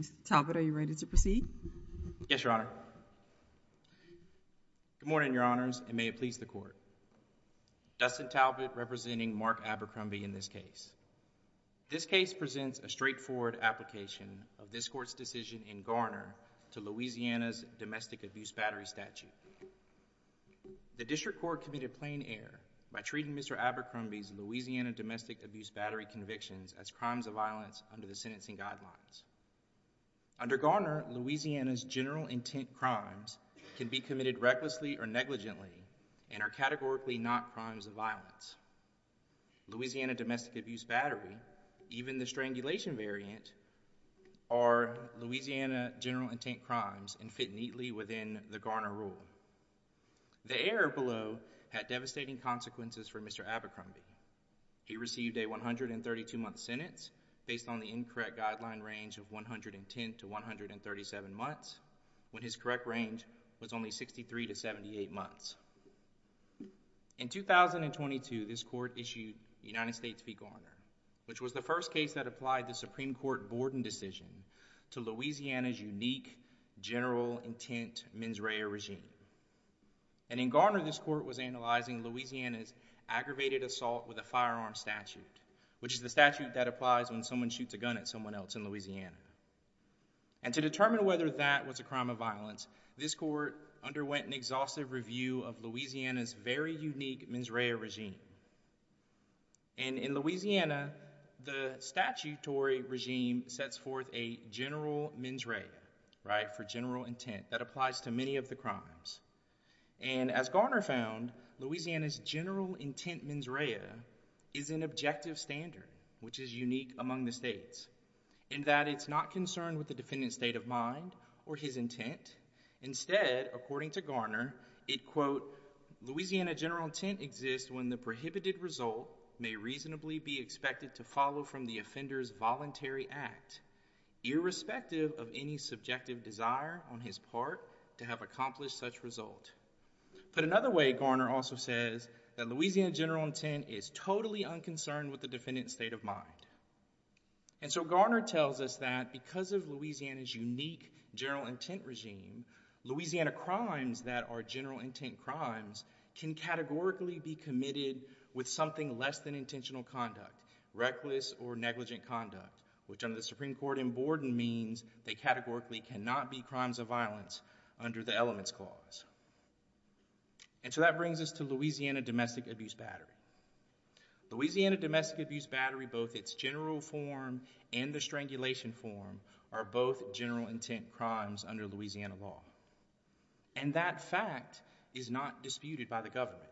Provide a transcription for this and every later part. Mr. Talbot, are you ready to proceed? Yes, Your Honor. Good morning, Your Honors, and may it please the Court. Dustin Talbot representing Mark Abercrombie in this case. This case presents a straightforward application of this Court's decision in Garner to Louisiana's domestic abuse battery statute. The District Court committed plain error by treating Mr. Abercrombie's Louisiana domestic abuse battery convictions as crimes of violence under the sentencing guidelines. Under Garner, Louisiana's general intent crimes can be committed recklessly or negligently and are categorically not crimes of violence. Louisiana domestic abuse battery, even the strangulation variant, are Louisiana general intent crimes and fit neatly within the Garner rule. The error below had devastating consequences for Mr. Abercrombie. He received a 132-month sentence based on the incorrect guideline range of 110 to 137 months, when his correct range was only 63 to 78 months. In 2022, this Court issued United States v. Garner, which was the first case that applied the Supreme Court Borden decision to Louisiana's unique general intent mens rea regime. And in Garner, this Court was analyzing Louisiana's aggravated assault with a firearm statute, which is the statute that applies when someone shoots a gun at someone else in Louisiana. And to determine whether that was a crime of violence, this Court underwent an exhaustive review of Louisiana's very unique mens rea regime. And in Louisiana, the statutory regime sets forth a general mens rea, right, for general intent that applies to many of the crimes. And as Garner found, Louisiana's general intent mens rea is an objective standard, which is unique among the states, in that it's not concerned with the defendant's state of mind or his intent. Instead, according to Garner, it, quote, Louisiana general intent exists when the prohibited result may reasonably be expected to follow from the offender's voluntary act, irrespective of any subjective desire on his part to have accomplished such result. Put another way, Garner also says that Louisiana general intent is totally unconcerned with the defendant's state of mind. And so Garner tells us that because of Louisiana's unique general intent regime, Louisiana crimes that are general intent crimes can categorically be committed with something less than intentional conduct, reckless or negligent conduct, which under the Supreme Court in Borden means they categorically cannot be crimes of violence under the Elements Clause. And so that brings us to Louisiana domestic abuse battery. Louisiana domestic abuse battery, both its general form and the strangulation form, are both general intent crimes under Louisiana law. And that fact is not disputed by the government.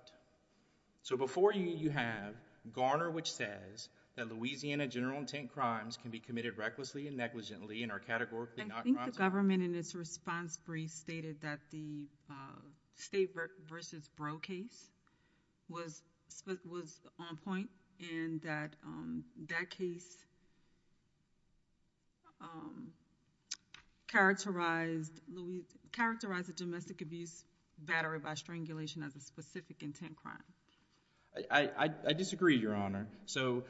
So before you, you have Garner, which says that Louisiana general intent crimes can be committed recklessly and negligently and are categorically not crimes of violence. The government in its response brief stated that the state versus bro case was on point and that that case characterized a domestic abuse battery by strangulation as a specific intent crime. I disagree, Your Honor. So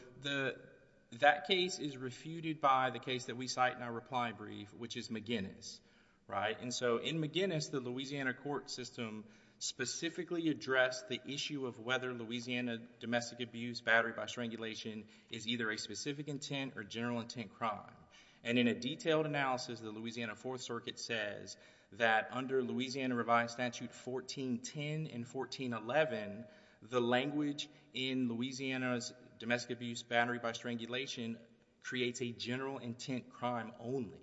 that case is refuted by the case that we cite in our reply brief, which is McGinnis. And so in McGinnis, the Louisiana court system specifically addressed the issue of whether Louisiana domestic abuse battery by strangulation is either a specific intent or general intent crime. And in a detailed analysis, the Louisiana Fourth Circuit says that under Louisiana Revised Statute 1410 and 1411, the language in Louisiana's domestic abuse battery by strangulation creates a general intent crime only.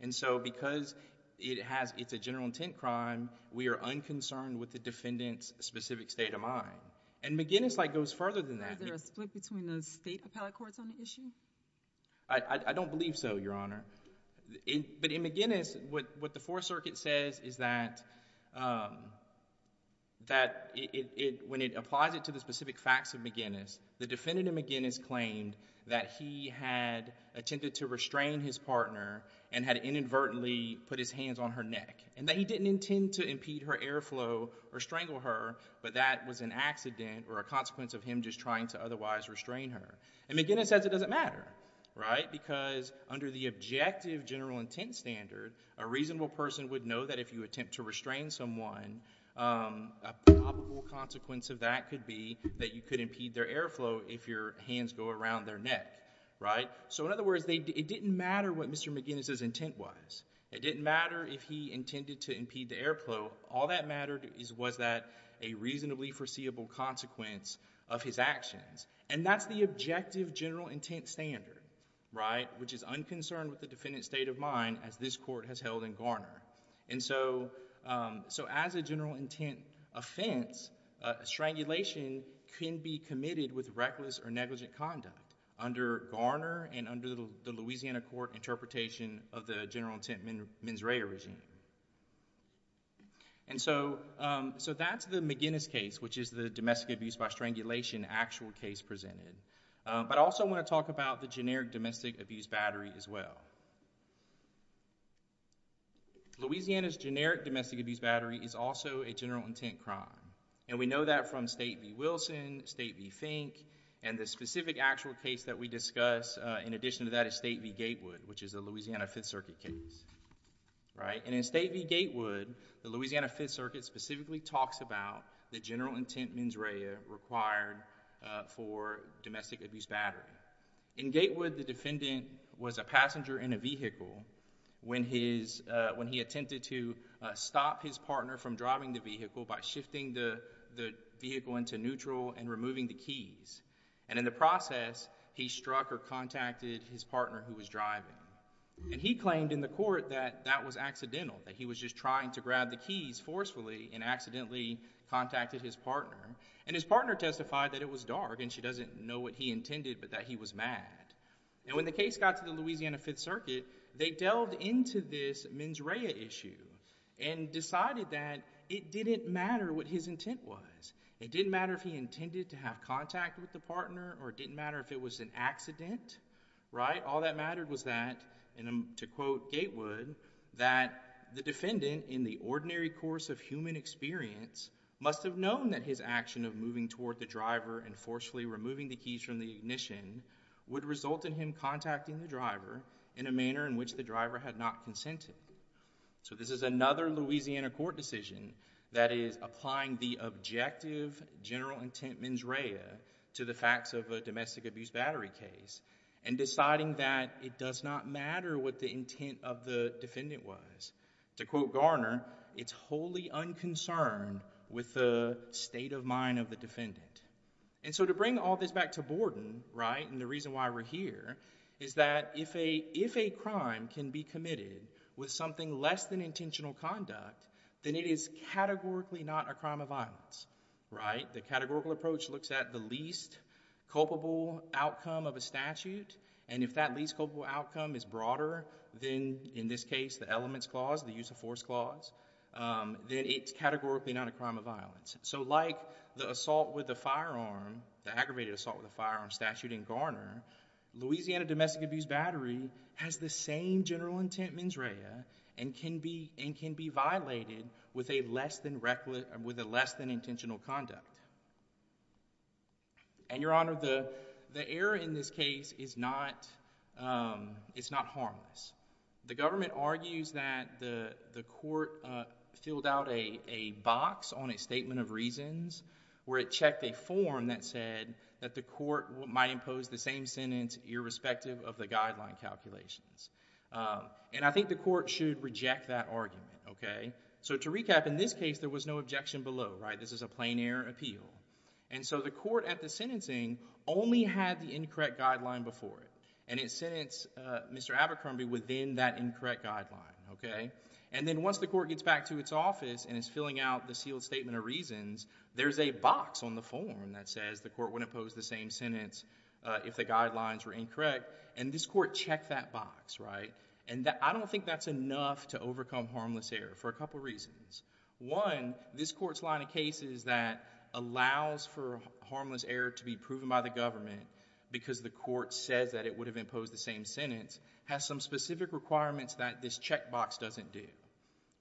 And so because it's a general intent crime, we are unconcerned with the defendant's specific state of mind. And McGinnis goes further than that. Is there a split between the state appellate courts on the issue? I don't believe so, Your Honor. But in McGinnis, what the Fourth Circuit says is that when it applies it to the specific facts of McGinnis, the defendant in McGinnis claimed that he had attempted to restrain his partner and had inadvertently put his hands on her neck, and that he didn't intend to impede her airflow or strangle her, but that was an accident or a consequence of him just trying to otherwise restrain her. And McGinnis says it doesn't matter, right? Because under the objective general intent standard, a reasonable person would know that if you attempt to restrain someone, a probable consequence of that could be that you could impede their airflow if your hands go around their neck, right? So in other words, it didn't matter what Mr. McGinnis's intent was. It didn't matter if he intended to impede the airflow. All that mattered was that a reasonably foreseeable consequence of his actions. And that's the objective general intent standard, right? Which is unconcerned with the defendant's state of mind as this court has held in Garner. And so as a general intent offense, strangulation can be committed with reckless or negligent conduct under Garner and under the Louisiana court interpretation of the general intent mens rea regime. And so that's the McGinnis case, which is the domestic abuse by strangulation actual case presented. But I also want to talk about the generic domestic abuse battery as well. Louisiana's generic domestic abuse battery is also a general intent crime. And we know that from State v. Wilson, State v. Fink, and the specific actual case that we discuss in addition to that is State v. Gatewood, which is a Louisiana Fifth Circuit case, right? And in State v. Gatewood, the Louisiana Fifth Circuit specifically talks about the general intent mens rea required for domestic abuse battery. In Gatewood, the defendant was a passenger in a vehicle when he attempted to stop his partner from driving the vehicle by shifting the vehicle into neutral and removing the And in the process, he struck or contacted his partner who was driving. And he claimed in the court that that was accidental, that he was just trying to grab the keys forcefully and accidentally contacted his partner. And his partner testified that it was dark and she doesn't know what he intended but that he was mad. And when the case got to the Louisiana Fifth Circuit, they delved into this mens rea issue and decided that it didn't matter what his intent was. It didn't matter if he intended to have contact with the partner or it didn't matter if it was an accident, right? All that mattered was that, and to quote Gatewood, that the defendant in the ordinary course of human experience must have known that his action of moving toward the driver and forcefully removing the keys from the ignition would result in him contacting the driver in a manner in which the driver had not consented. So this is another Louisiana court decision that is applying the objective general intent mens rea to the facts of a domestic abuse battery case and deciding that it does not matter what the intent of the defendant was. To quote Garner, it's wholly unconcerned with the state of mind of the defendant. And so to bring all this back to Borden, right, and the reason why we're here, is that if a crime can be committed with something less than intentional conduct, then it is categorically not a crime of violence, right? The categorical approach looks at the least culpable outcome of a statute, and if that least culpable outcome is broader than, in this case, the elements clause, the use of force clause, then it's categorically not a crime of violence. So like the assault with a firearm, the aggravated assault with a firearm statute in Garner, Louisiana domestic abuse battery has the same general intent mens rea and can be violated with a less than intentional conduct. And Your Honor, the error in this case is not harmless. The government argues that the court filled out a box on a statement of reasons where it checked a form that said that the court might impose the same sentence irrespective of the guideline calculations. And I think the court should reject that argument, okay? So to recap, in this case, there was no objection below, right? This is a plain error appeal. And so the court at the sentencing only had the incorrect guideline before it. And it sentenced Mr. Abercrombie within that incorrect guideline, okay? And then once the court gets back to its office and is filling out the sealed statement of reasons, there's a box on the form that says the court would impose the same sentence if the guidelines were incorrect, and this court checked that box, right? And I don't think that's enough to overcome harmless error for a couple reasons. One, this court's line of cases that allows for harmless error to be proven by the government because the court says that it would have imposed the same sentence has some specific requirements that this check box doesn't do,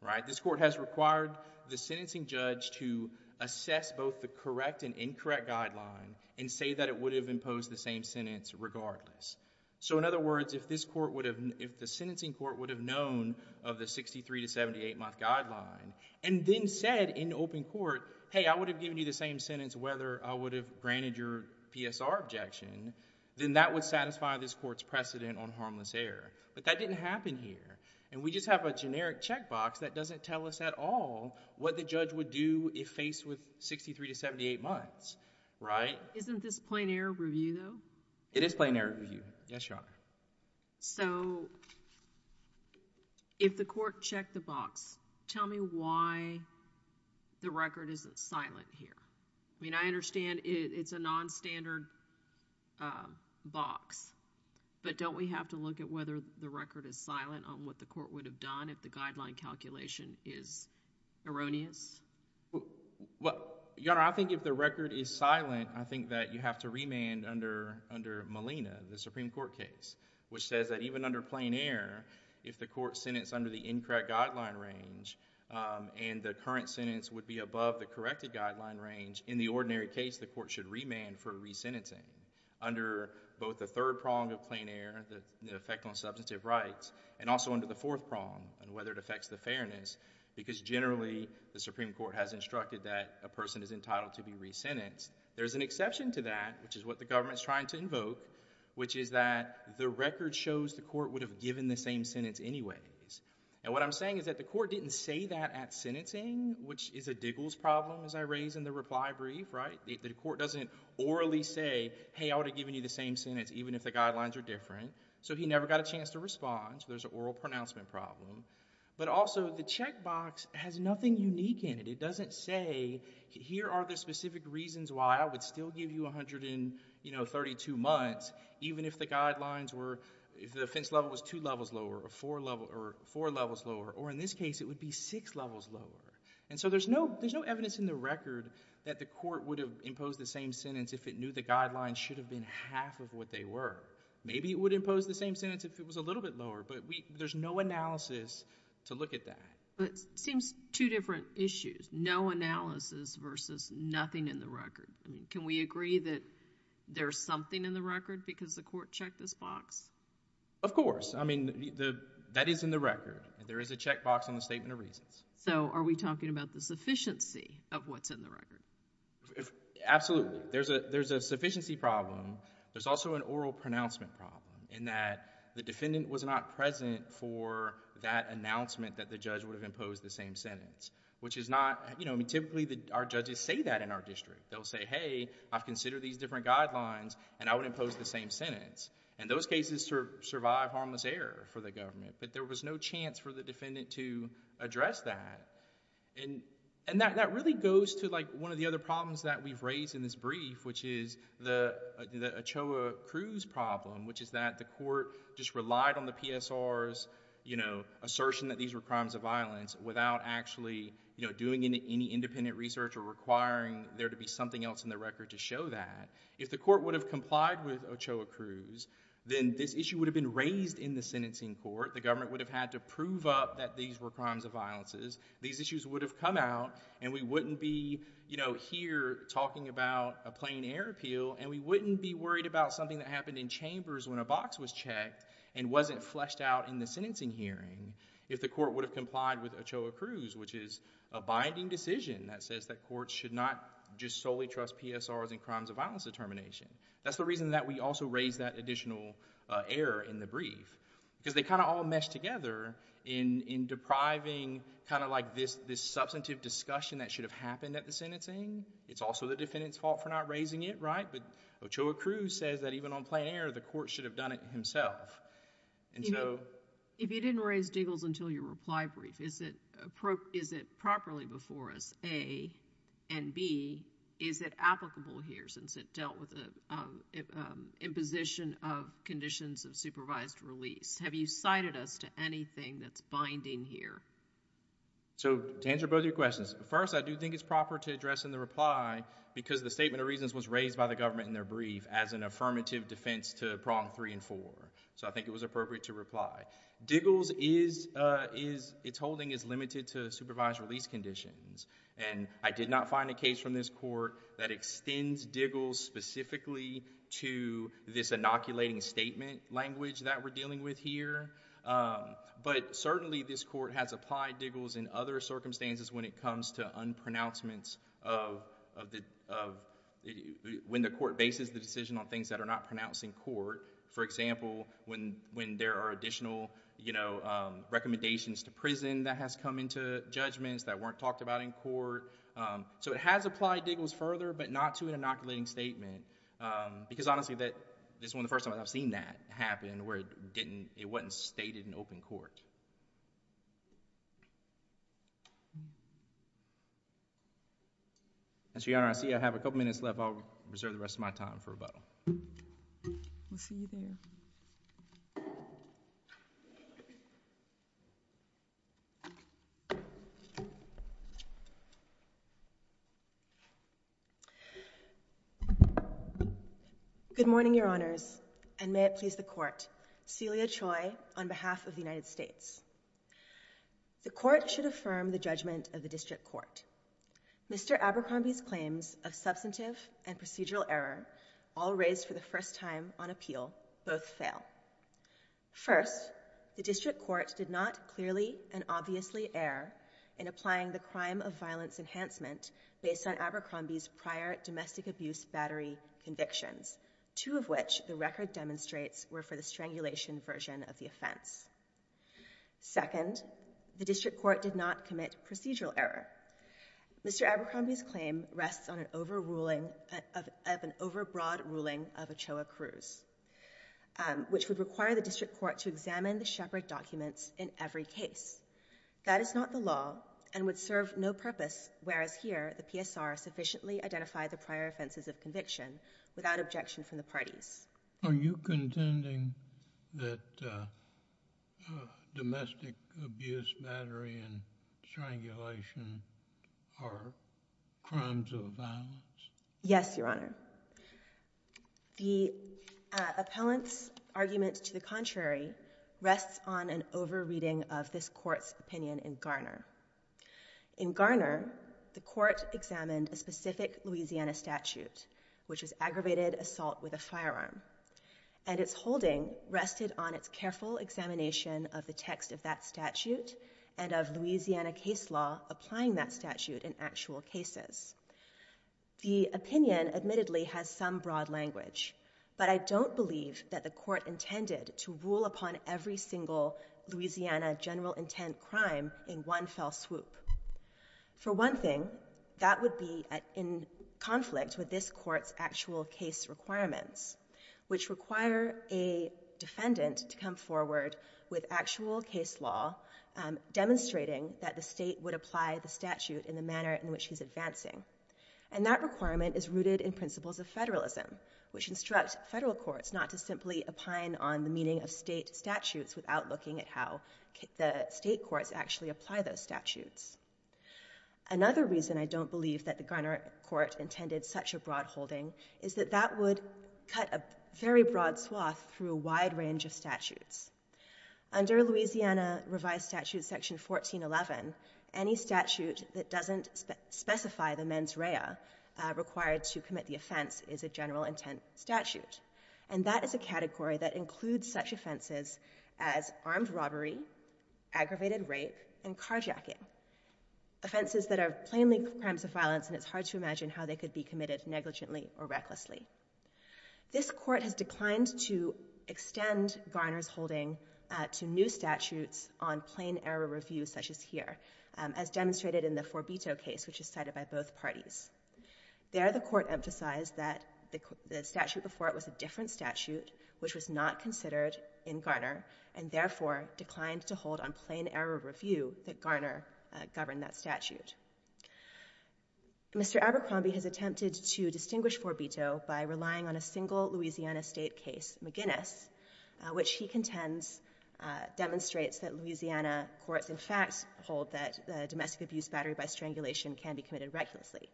right? This court has required the sentencing judge to assess both the correct and incorrect guideline and say that it would have imposed the same sentence regardless. So in other words, if this court would have, if the sentencing court would have known of the 63 to 78-month guideline and then said in open court, hey, I would have given you the same sentence whether I would have granted your PSR objection, then that would satisfy this court's precedent on harmless error, but that didn't happen here. And we just have a generic check box that doesn't tell us at all what the judge would do if faced with 63 to 78 months, right? Isn't this plain error review, though? It is plain error review, yes, Your Honor. So if the court checked the box, tell me why the record isn't silent here? I mean, I understand it's a non-standard box, but don't we have to look at whether the record is silent on what the court would have done if the guideline calculation is erroneous? Well, Your Honor, I think if the record is silent, I think that you have to remand under Molina, the Supreme Court case, which says that even under plain error, if the court sentenced under the incorrect guideline range and the current sentence would be above the corrected guideline range, in the ordinary case, the court should remand for re-sentencing under both the third prong of plain error, the effect on substantive rights, and also under the fourth prong, and whether it affects the fairness, because generally, the Supreme Court has instructed that a person is entitled to be re-sentenced. There's an exception to that, which is what the government's trying to invoke, which is that the record shows the court would have given the same sentence anyways. And what I'm saying is that the court didn't say that at sentencing, which is a Diggles problem, as I raise in the reply brief, right? The court doesn't orally say, hey, I would have given you the same sentence even if the guidelines are different. So he never got a chance to respond. So there's an oral pronouncement problem. But also, the checkbox has nothing unique in it. It doesn't say, here are the specific reasons why I would still give you 132 months, even if the guidelines were, if the offense level was two levels lower, or four levels lower, or in this case, it would be six levels lower. And so there's no evidence in the record that the court would have imposed the same sentence if it knew the guidelines should have been half of what they were. Maybe it would impose the same sentence if it was a little bit lower. But there's no analysis to look at that. But it seems two different issues. No analysis versus nothing in the record. Can we agree that there's something in the record because the court checked this box? Of course. I mean, that is in the record. There is a checkbox on the statement of reasons. So are we talking about the sufficiency of what's in the record? Absolutely. There's a sufficiency problem. There's also an oral pronouncement problem in that the defendant was not present for that announcement that the judge would have imposed the same sentence, which is not, you know, typically our judges say that in our district. They'll say, hey, I've considered these different guidelines and I would impose the same sentence. And those cases survive harmless error for the government. But there was no chance for the defendant to address that. And that really goes to like one of the other problems that we've raised in this brief, which is the Ochoa Cruz problem, which is that the court just relied on the PSR's, you know, assertion that these were crimes of violence without actually, you know, doing any independent research or requiring there to be something else in the record to show that. If the court would have complied with Ochoa Cruz, then this issue would have been raised in the sentencing court. The government would have had to prove up that these were crimes of violences. These issues would have come out and we wouldn't be, you know, here talking about a plain air appeal and we wouldn't be worried about something that happened in chambers when a box was checked and wasn't fleshed out in the sentencing hearing if the court would have complied with Ochoa Cruz, which is a binding decision that says that courts should not just solely trust PSR's in crimes of violence determination. That's the reason that we also raised that additional error in the brief. Because they kind of all mesh together in depriving kind of like this substantive discussion that should have happened at the sentencing. It's also the defendant's fault for not raising it, right? But Ochoa Cruz says that even on plain air, the court should have done it himself. And so... If you didn't raise Diggles until your reply brief, is it properly before us, A, and B, is it applicable here since it dealt with the imposition of conditions of supervised release? Have you cited us to anything that's binding here? So, to answer both of your questions, first, I do think it's proper to address in the reply because the statement of reasons was raised by the government in their brief as an affirmative defense to prong three and four. So I think it was appropriate to reply. Diggles is... its holding is limited to supervised release conditions. And I did not find a case from this court that extends Diggles specifically to this inoculating statement language that we're dealing with here. But, certainly, this court has applied Diggles in other circumstances when it comes to unpronouncements of... when the court bases the decision on things that are not pronounced in court. For example, when there are additional, you know, recommendations to prison that has come into judgments that weren't talked about in court. So it has applied Diggles further, but not to an inoculating statement. Because, honestly, this is one of the first times I've seen that happen where it didn't... it wasn't stated in open court. Your Honor, I see I have a couple minutes left. I'll reserve the rest of my time for rebuttal. We'll see you there. Good morning, Your Honors, and may it please the Court. Celia Choi, on behalf of the United States. The Court should affirm the judgment of the District Court. Mr. Abercrombie's claims of substantive and procedural error, all raised for the first time on appeal, both fail. First, the District Court did not clearly and obviously err in applying the crime of violence enhancement based on Abercrombie's prior domestic abuse battery convictions, two of which the record demonstrates were for the strangulation version of the offense. Second, the District Court did not commit procedural error. Mr. Abercrombie's claim rests on an overruling of an overbroad ruling of Ochoa Cruz, which would require the District Court to examine the Shepard documents in every case. That is not the law and would serve no purpose, whereas here the PSR sufficiently identified the prior offenses of conviction without objection from the parties. Are you contending that domestic abuse battery and strangulation are crimes of violence? Yes, Your Honor. The appellant's argument to the contrary rests on an over-reading of this Court's opinion in Garner. In Garner, the Court examined a specific Louisiana statute, which was aggravated assault with a firearm, and its holding rested on its careful examination of the text of that statute and of Louisiana case law applying that statute in actual cases. The opinion admittedly has some broad language, but I don't believe that the Court intended to rule upon every single Louisiana general intent crime in one fell swoop. For one thing, that would be in conflict with this Court's actual case requirements, which require a defendant to come forward with actual case law demonstrating that the state would apply the statute in the manner in which he's advancing. And that requirement is rooted in principles of federalism, which instructs federal courts not to simply opine on the meaning of state statutes without looking at how the state courts actually apply those statutes. Another reason I don't believe that the Garner Court intended such a broad holding is that that would cut a very broad swath through a wide range of statutes. Under Louisiana Revised Statute Section 1411, any statute that doesn't specify the mens rea required to commit the offense is a general intent statute. And that is a category that includes such offenses as armed robbery, aggravated rape, and carjacking, offenses that are plainly crimes of violence, and it's hard to imagine how they could be committed negligently or recklessly. This Court has declined to extend Garner's holding to new statutes on plain error review such as here, as demonstrated in the Forbito case, which is cited by both parties. There, the Court emphasized that the statute before it was a different statute, which was not considered in Garner, and therefore declined to hold on plain error review that Garner governed that statute. Mr. Abercrombie has attempted to distinguish Forbito by relying on a single Louisiana state case, McGinnis, which he contends demonstrates that Louisiana courts, in fact, hold that domestic abuse battery by strangulation can be committed recklessly.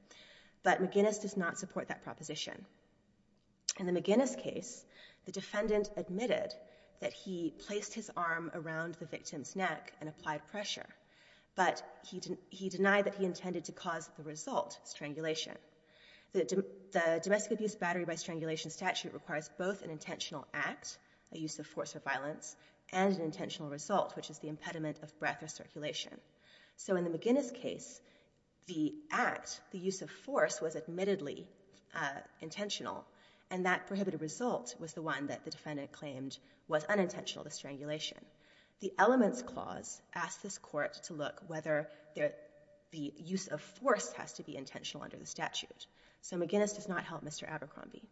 But McGinnis does not support that proposition. In the McGinnis case, the defendant admitted that he placed his arm around the victim's neck and applied pressure, but he denied that he intended to cause the result, strangulation. The domestic abuse battery by strangulation statute requires both an intentional act, a use of force or violence, and an intentional result, which is the impediment of breath or circulation. So in the McGinnis case, the act, the use of force, was admittedly intentional, and that prohibited result was the one that the defendant claimed was unintentional, the strangulation. The elements clause asks this court to look whether the use of force has to be intentional under the statute. So McGinnis does not help Mr. Abercrombie.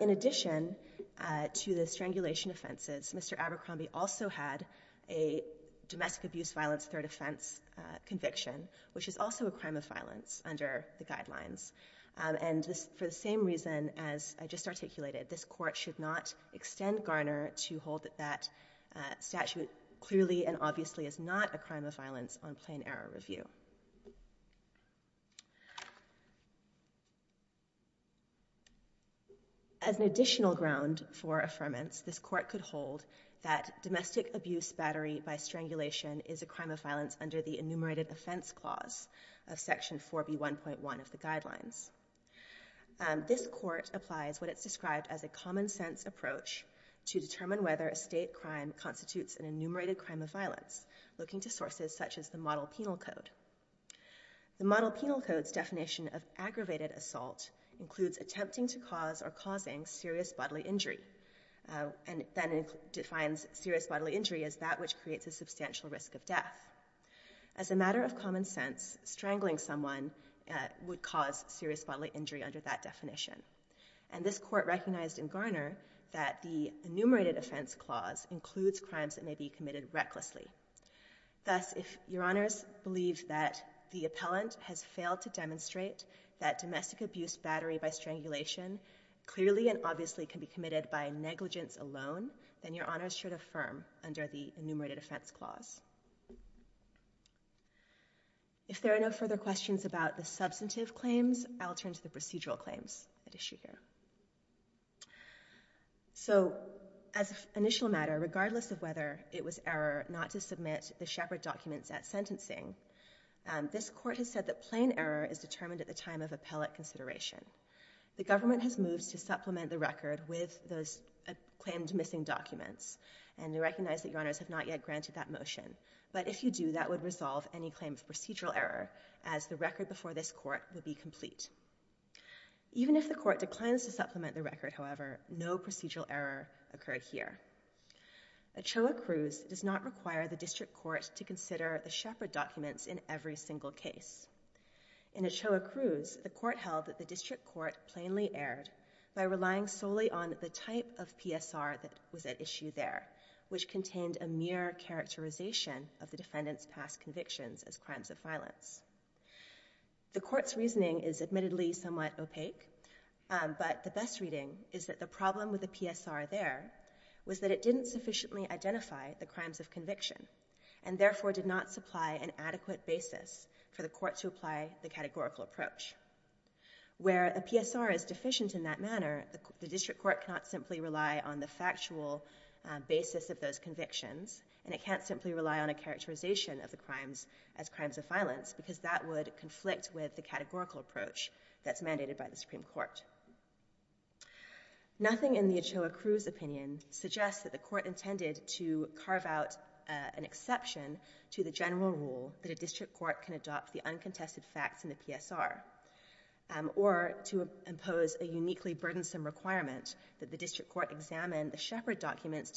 In addition to the strangulation offenses, Mr. Abercrombie also had a domestic abuse violence third offense conviction, which is also a crime of violence under the guidelines. And for the same reason as I just articulated, this court should not extend Garner to hold that that statute clearly and obviously is not a crime of violence on plain error review. As an additional ground for affirmance, this court could hold that domestic abuse battery by strangulation is a crime of violence under the enumerated offense clause of section 4B1.1 of the guidelines. This court applies what it's described as a common sense approach to determine whether a state crime constitutes an enumerated crime of violence, looking to sources such as the model penal code. The model penal code's definition of aggravated assault includes attempting to cause or causing serious bodily injury, and then defines serious bodily injury as that which creates a substantial risk of death. As a matter of common sense, strangling someone would cause serious bodily injury under that definition. And this court recognized in Garner that the enumerated offense clause includes crimes that may be committed recklessly. Thus, if your honors believe that the appellant has failed to demonstrate that domestic abuse battery by strangulation clearly and obviously can be committed by negligence alone, then your honors should affirm under the enumerated offense clause. If there are no further questions about the substantive claims, I'll turn to the procedural claims at issue here. So, as an initial matter, regardless of whether it was error not to submit the Shepard documents at sentencing, this court has said that plain error is determined at the time of appellate consideration. The government has moved to supplement the record with those claimed missing documents, and we recognize that your honors have not yet granted that motion. But if you do, that would resolve any claim of procedural error, as the record before this court would be complete. Even if the court declines to supplement the record, however, no procedural error occurred here. Ochoa Cruz does not require the district court to consider the Shepard documents in every single case. In Ochoa Cruz, the court held that the district court plainly erred by relying solely on the type of PSR that was at issue there, which contained a mere characterization of the defendant's past convictions as crimes of violence. The court's reasoning is admittedly somewhat opaque, but the best reading is that the problem with the PSR there was that it didn't sufficiently identify the crimes of conviction, and therefore did not supply an adequate basis for the court to apply the categorical approach. Where a PSR is deficient in that manner, the district court cannot simply rely on the factual basis of those convictions, and it can't simply rely on a characterization of the crimes as crimes of violence, because that would conflict with the categorical approach that's mandated by the Supreme Court. Nothing in the Ochoa Cruz opinion suggests that the court intended to carve out an exception to the general rule that a district court can adopt the uncontested facts in the PSR, or to impose a uniquely burdensome requirement that the district court examine the Shepard documents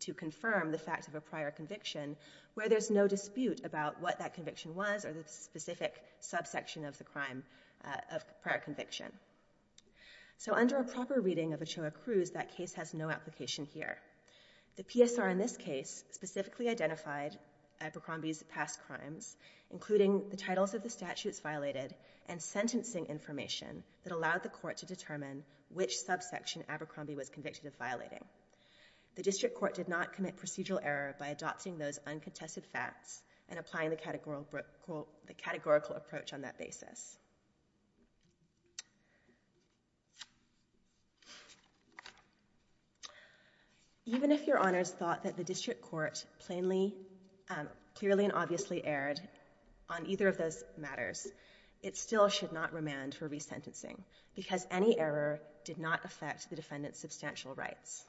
to confirm the fact of a prior conviction, where there's no dispute about what that conviction was or the specific subsection of the crime of prior conviction. So under a proper reading of Ochoa Cruz, that case has no application here. The PSR in this case specifically identified Abercrombie's past crimes, including the titles of the statutes violated and sentencing information that allowed the court to determine which subsection Abercrombie was convicted of violating. The district court did not commit procedural error by adopting those uncontested facts and applying the categorical approach on that basis. Even if your honors thought that the district court clearly and obviously erred on either of those matters, it still should not remand for resentencing, because any error did not affect the defendant's substantial rights.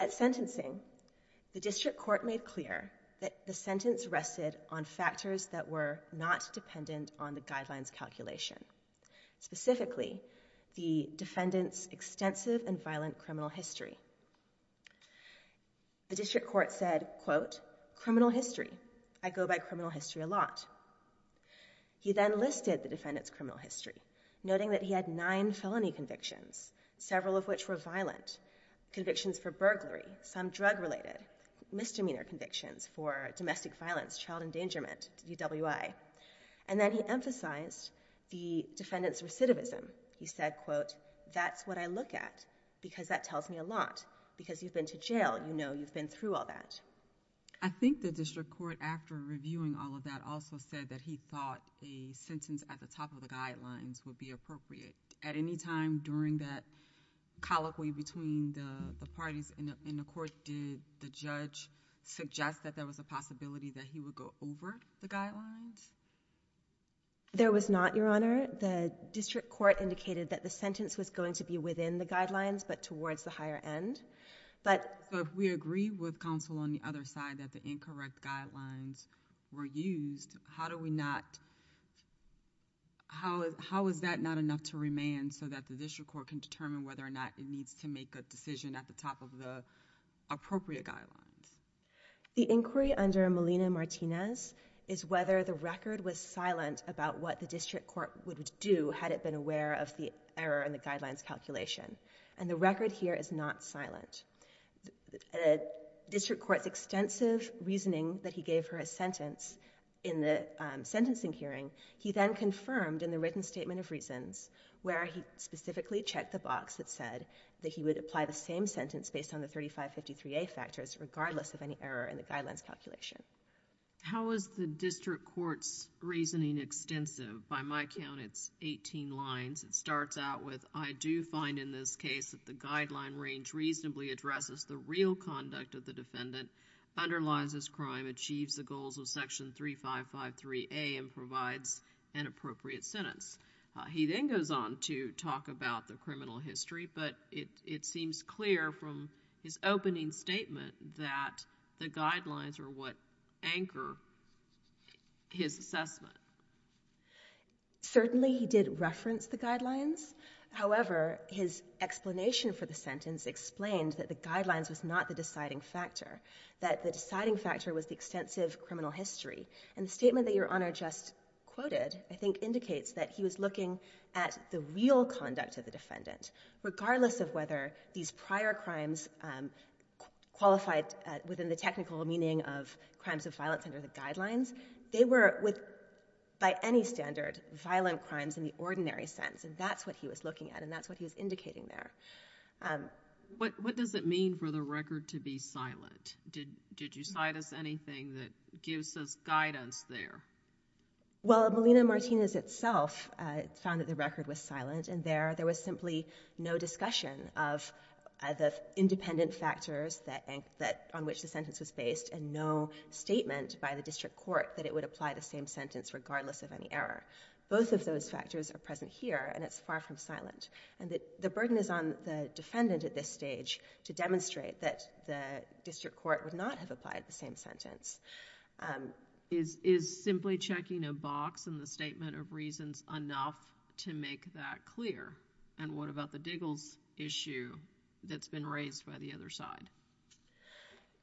At sentencing, the district court made clear that the sentence rested on factors that were not dependent on the guidelines calculation, specifically the defendant's extensive and violent criminal history. The district court said, quote, criminal history. I go by criminal history a lot. He then listed the defendant's criminal history, noting that he had nine felony convictions, several of which were violent, convictions for burglary, some drug-related, misdemeanor convictions for domestic violence, child endangerment, DWI. And then he emphasized the defendant's recidivism. He said, quote, that's what I look at, because that tells me a lot, because you've been to jail, you know you've been through all that. I think the district court, after reviewing all of that, also said that he thought a sentence at the top of the guidelines would be appropriate. At any time during that colloquy between the parties in the court, did the judge suggest that there was a possibility that he would go over the guidelines? There was not, Your Honor. The district court indicated that the sentence was going to be within the guidelines, but towards the higher end. So if we agree with counsel on the other side that the incorrect guidelines were used, how is that not enough to remain so that the district court can determine whether or not it needs to make a decision at the top of the appropriate guidelines? The inquiry under Melina Martinez is whether the record was silent about what the district court would do had it been aware of the error in the guidelines calculation. And the record here is not silent. District court's extensive reasoning that he gave her a sentence in the sentencing hearing, he then confirmed in the written statement of reasons where he specifically checked the box that said that he would apply the same sentence based on the 3553A factors, regardless of any error in the guidelines calculation. How is the district court's reasoning extensive? By my count, it's 18 lines. It starts out with, I do find in this case that the guideline range reasonably addresses the real conduct of the defendant, underlines his crime, achieves the goals of section 3553A, and provides an appropriate sentence. He then goes on to talk about the criminal history, but it seems clear from his opening statement that the guidelines are what anchor his assessment. Certainly, he did reference the guidelines. However, his explanation for the sentence explained that the guidelines was not the deciding factor, that the deciding factor was the extensive criminal history. And the statement that Your Honor just quoted, I think, indicates that he was looking at the real conduct of the defendant, regardless of whether these prior crimes qualified within the technical meaning of crimes of violence under the guidelines. They were, by any standard, violent crimes in the ordinary sense, and that's what he was looking at, and that's what he was indicating there. What does it mean for the record to be silent? Did you cite us anything that gives us guidance there? Well, Melina Martinez itself found that the record was silent, and there was simply no discussion of the independent factors on which the sentence was based, and no statement by the district court that it would apply the same sentence regardless of any error. Both of those factors are present here, and it's far from silent. And the burden is on the defendant at this stage to demonstrate that the district court would not have applied the same sentence. Is simply checking a box in the statement of reasons enough to make that clear? And what about the Diggles issue that's been raised by the other side?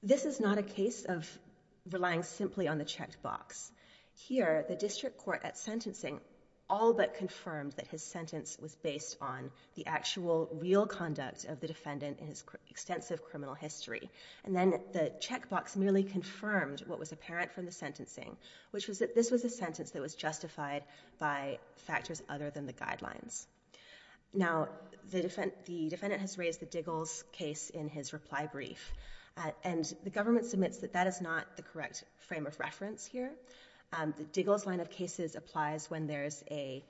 This is not a case of relying simply on the checked box. Here, the district court at sentencing all but confirmed that his sentence was based on the actual real conduct of the defendant in his extensive criminal history, and then the check box merely confirmed what was apparent from the sentencing, which was that this was a sentence that was justified by factors other than the guidelines. Now, the defendant has raised the Diggles case in his reply brief, and the government submits that that is not the correct frame of reference here. The Diggles line of cases applies when there is a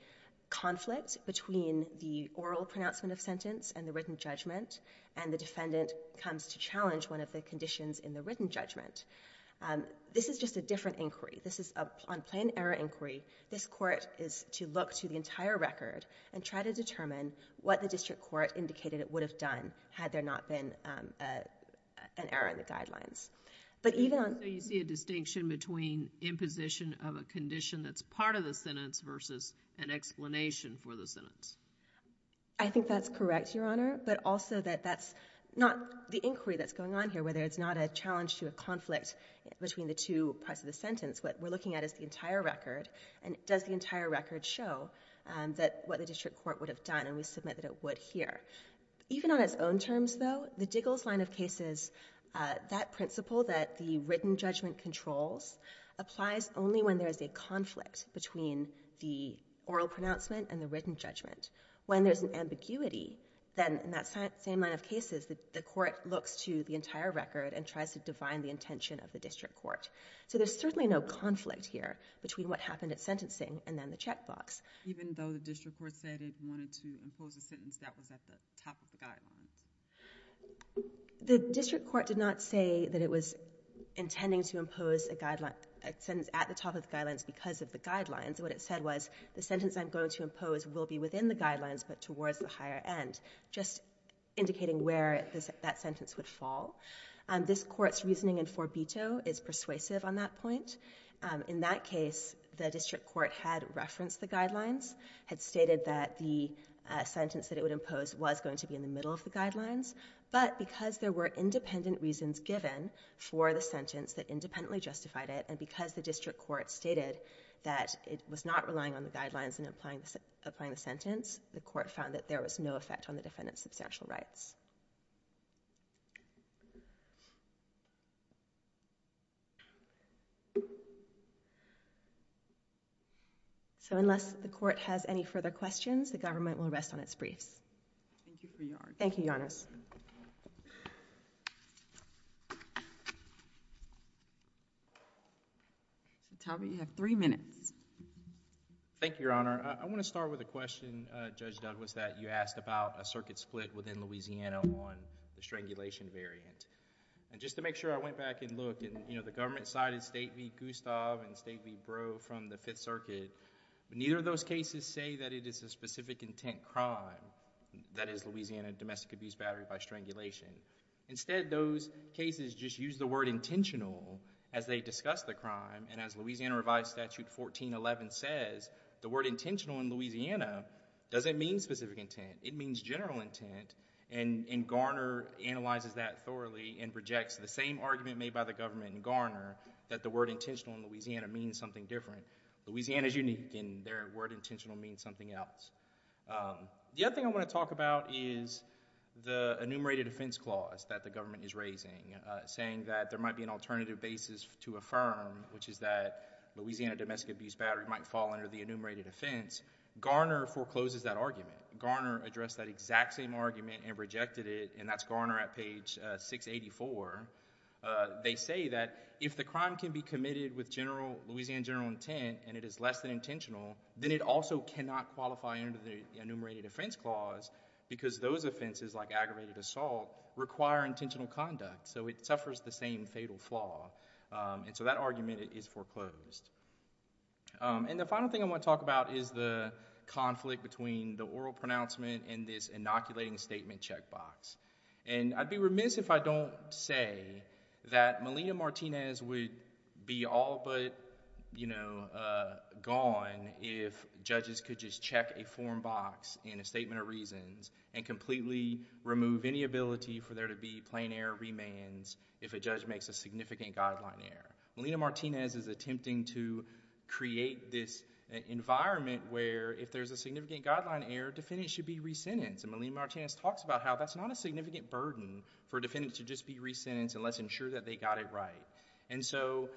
conflict between the oral pronouncement of sentence and the written judgment, and the defendant comes to challenge one of the conditions in the written judgment. This is just a different inquiry. This is on plain error inquiry. This court is to look to the entire record and try to determine what the district court indicated it would have done had there not been an error in the guidelines. But even on- So you see a distinction between imposition of a condition that's part of the sentence versus an explanation for the sentence? I think that's correct, Your Honor, but also that that's not the inquiry that's going on here, and whether it's not a challenge to a conflict between the two parts of the sentence, what we're looking at is the entire record, and does the entire record show what the district court would have done, and we submit that it would here. Even on its own terms, though, the Diggles line of cases, that principle that the written judgment controls applies only when there is a conflict between the oral pronouncement and the written judgment. When there's an ambiguity, then in that same line of cases, the court looks to the entire record and tries to define the intention of the district court. So there's certainly no conflict here between what happened at sentencing and then the checkbox. Even though the district court said it wanted to impose a sentence that was at the top of the guidelines? The district court did not say that it was intending to impose a sentence at the top of the guidelines because of the guidelines. What it said was, the sentence I'm going to impose will be within the guidelines but towards the higher end, just indicating where that sentence would fall. This court's reasoning in for veto is persuasive on that point. In that case, the district court had referenced the guidelines, had stated that the sentence that it would impose was going to be in the middle of the guidelines, but because there were independent reasons given for the sentence that independently justified it, and because the district court stated that it was not relying on the guidelines in applying the sentence, the court found that there was no effect on the defendant's substantial rights. So unless the court has any further questions, the government will rest on its briefs. Thank you, Your Honor. Thank you, Your Honors. Talbot, you have three minutes. Thank you, Your Honor. I want to start with a question, Judge Douglas, that you asked about a circuit split within Louisiana on the strangulation variant. Just to make sure, I went back and looked, and the government cited State v. Gustave and State v. Breaux from the Fifth Circuit, but neither of those cases say that it is a specific intent crime, that is, Louisiana domestic abuse battery by strangulation. Instead, those cases just use the word intentional as they discuss the crime, and as Louisiana Revised Statute 1411 says, the word intentional in Louisiana doesn't mean specific intent. It means general intent, and Garner analyzes that thoroughly and projects the same argument made by the government in Garner that the word intentional in Louisiana means something different. Louisiana's unique in their word intentional means something else. The other thing I want to talk about is the enumerated offense clause that the government is raising, saying that there might be an alternative basis to affirm, which is that Louisiana domestic abuse battery might fall under the enumerated offense. Garner forecloses that argument. Garner addressed that exact same argument and rejected it, and that's Garner at page 684. They say that if the crime can be committed with Louisiana general intent and it is less than intentional, then it also cannot qualify under the enumerated offense clause because those offenses, like aggravated assault, require intentional conduct, so it suffers the same fatal flaw. And so that argument is foreclosed. And the final thing I want to talk about is the conflict between the oral pronouncement and this inoculating statement checkbox. And I'd be remiss if I don't say that Melina Martinez would be all but, you know, gone if judges could just check a form box in a statement of reasons and completely remove any ability for there to be plain air remands if a judge makes a significant guideline error. Melina Martinez is attempting to create this environment where if there's a significant guideline error, defendant should be resentenced, and Melina Martinez talks about how that's not a significant burden for a defendant to just be resentenced unless ensured that they got it right. And so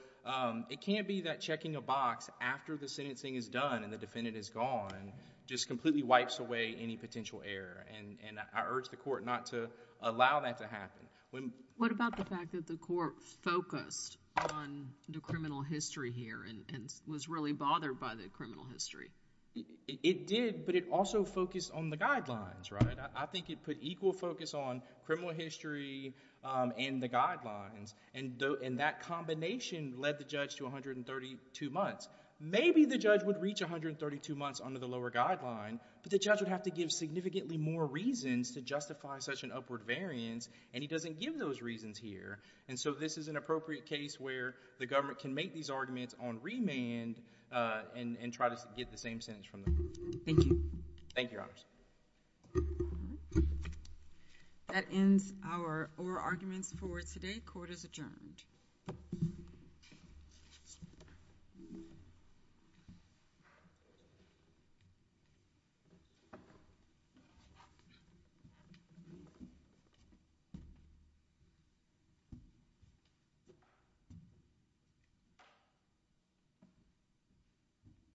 it can't be that checking a box after the sentencing is done and the defendant is gone just completely wipes away any potential error, and I urge the court not to allow that to happen. What about the fact that the court focused on the criminal history here and was really bothered by the criminal history? It did, but it also focused on the guidelines, right? I think it put equal focus on criminal history and the guidelines, and that combination led the judge to 132 months. Maybe the judge would reach 132 months under the lower guideline, but the judge would have to give significantly more reasons to justify such an upward variance, and he doesn't give those reasons here. And so this is an appropriate case where the government can make these arguments on remand and try to get the same sentence from the court. Thank you. Thank you, Your Honors. That ends our oral arguments for today. Court is adjourned. Thank you.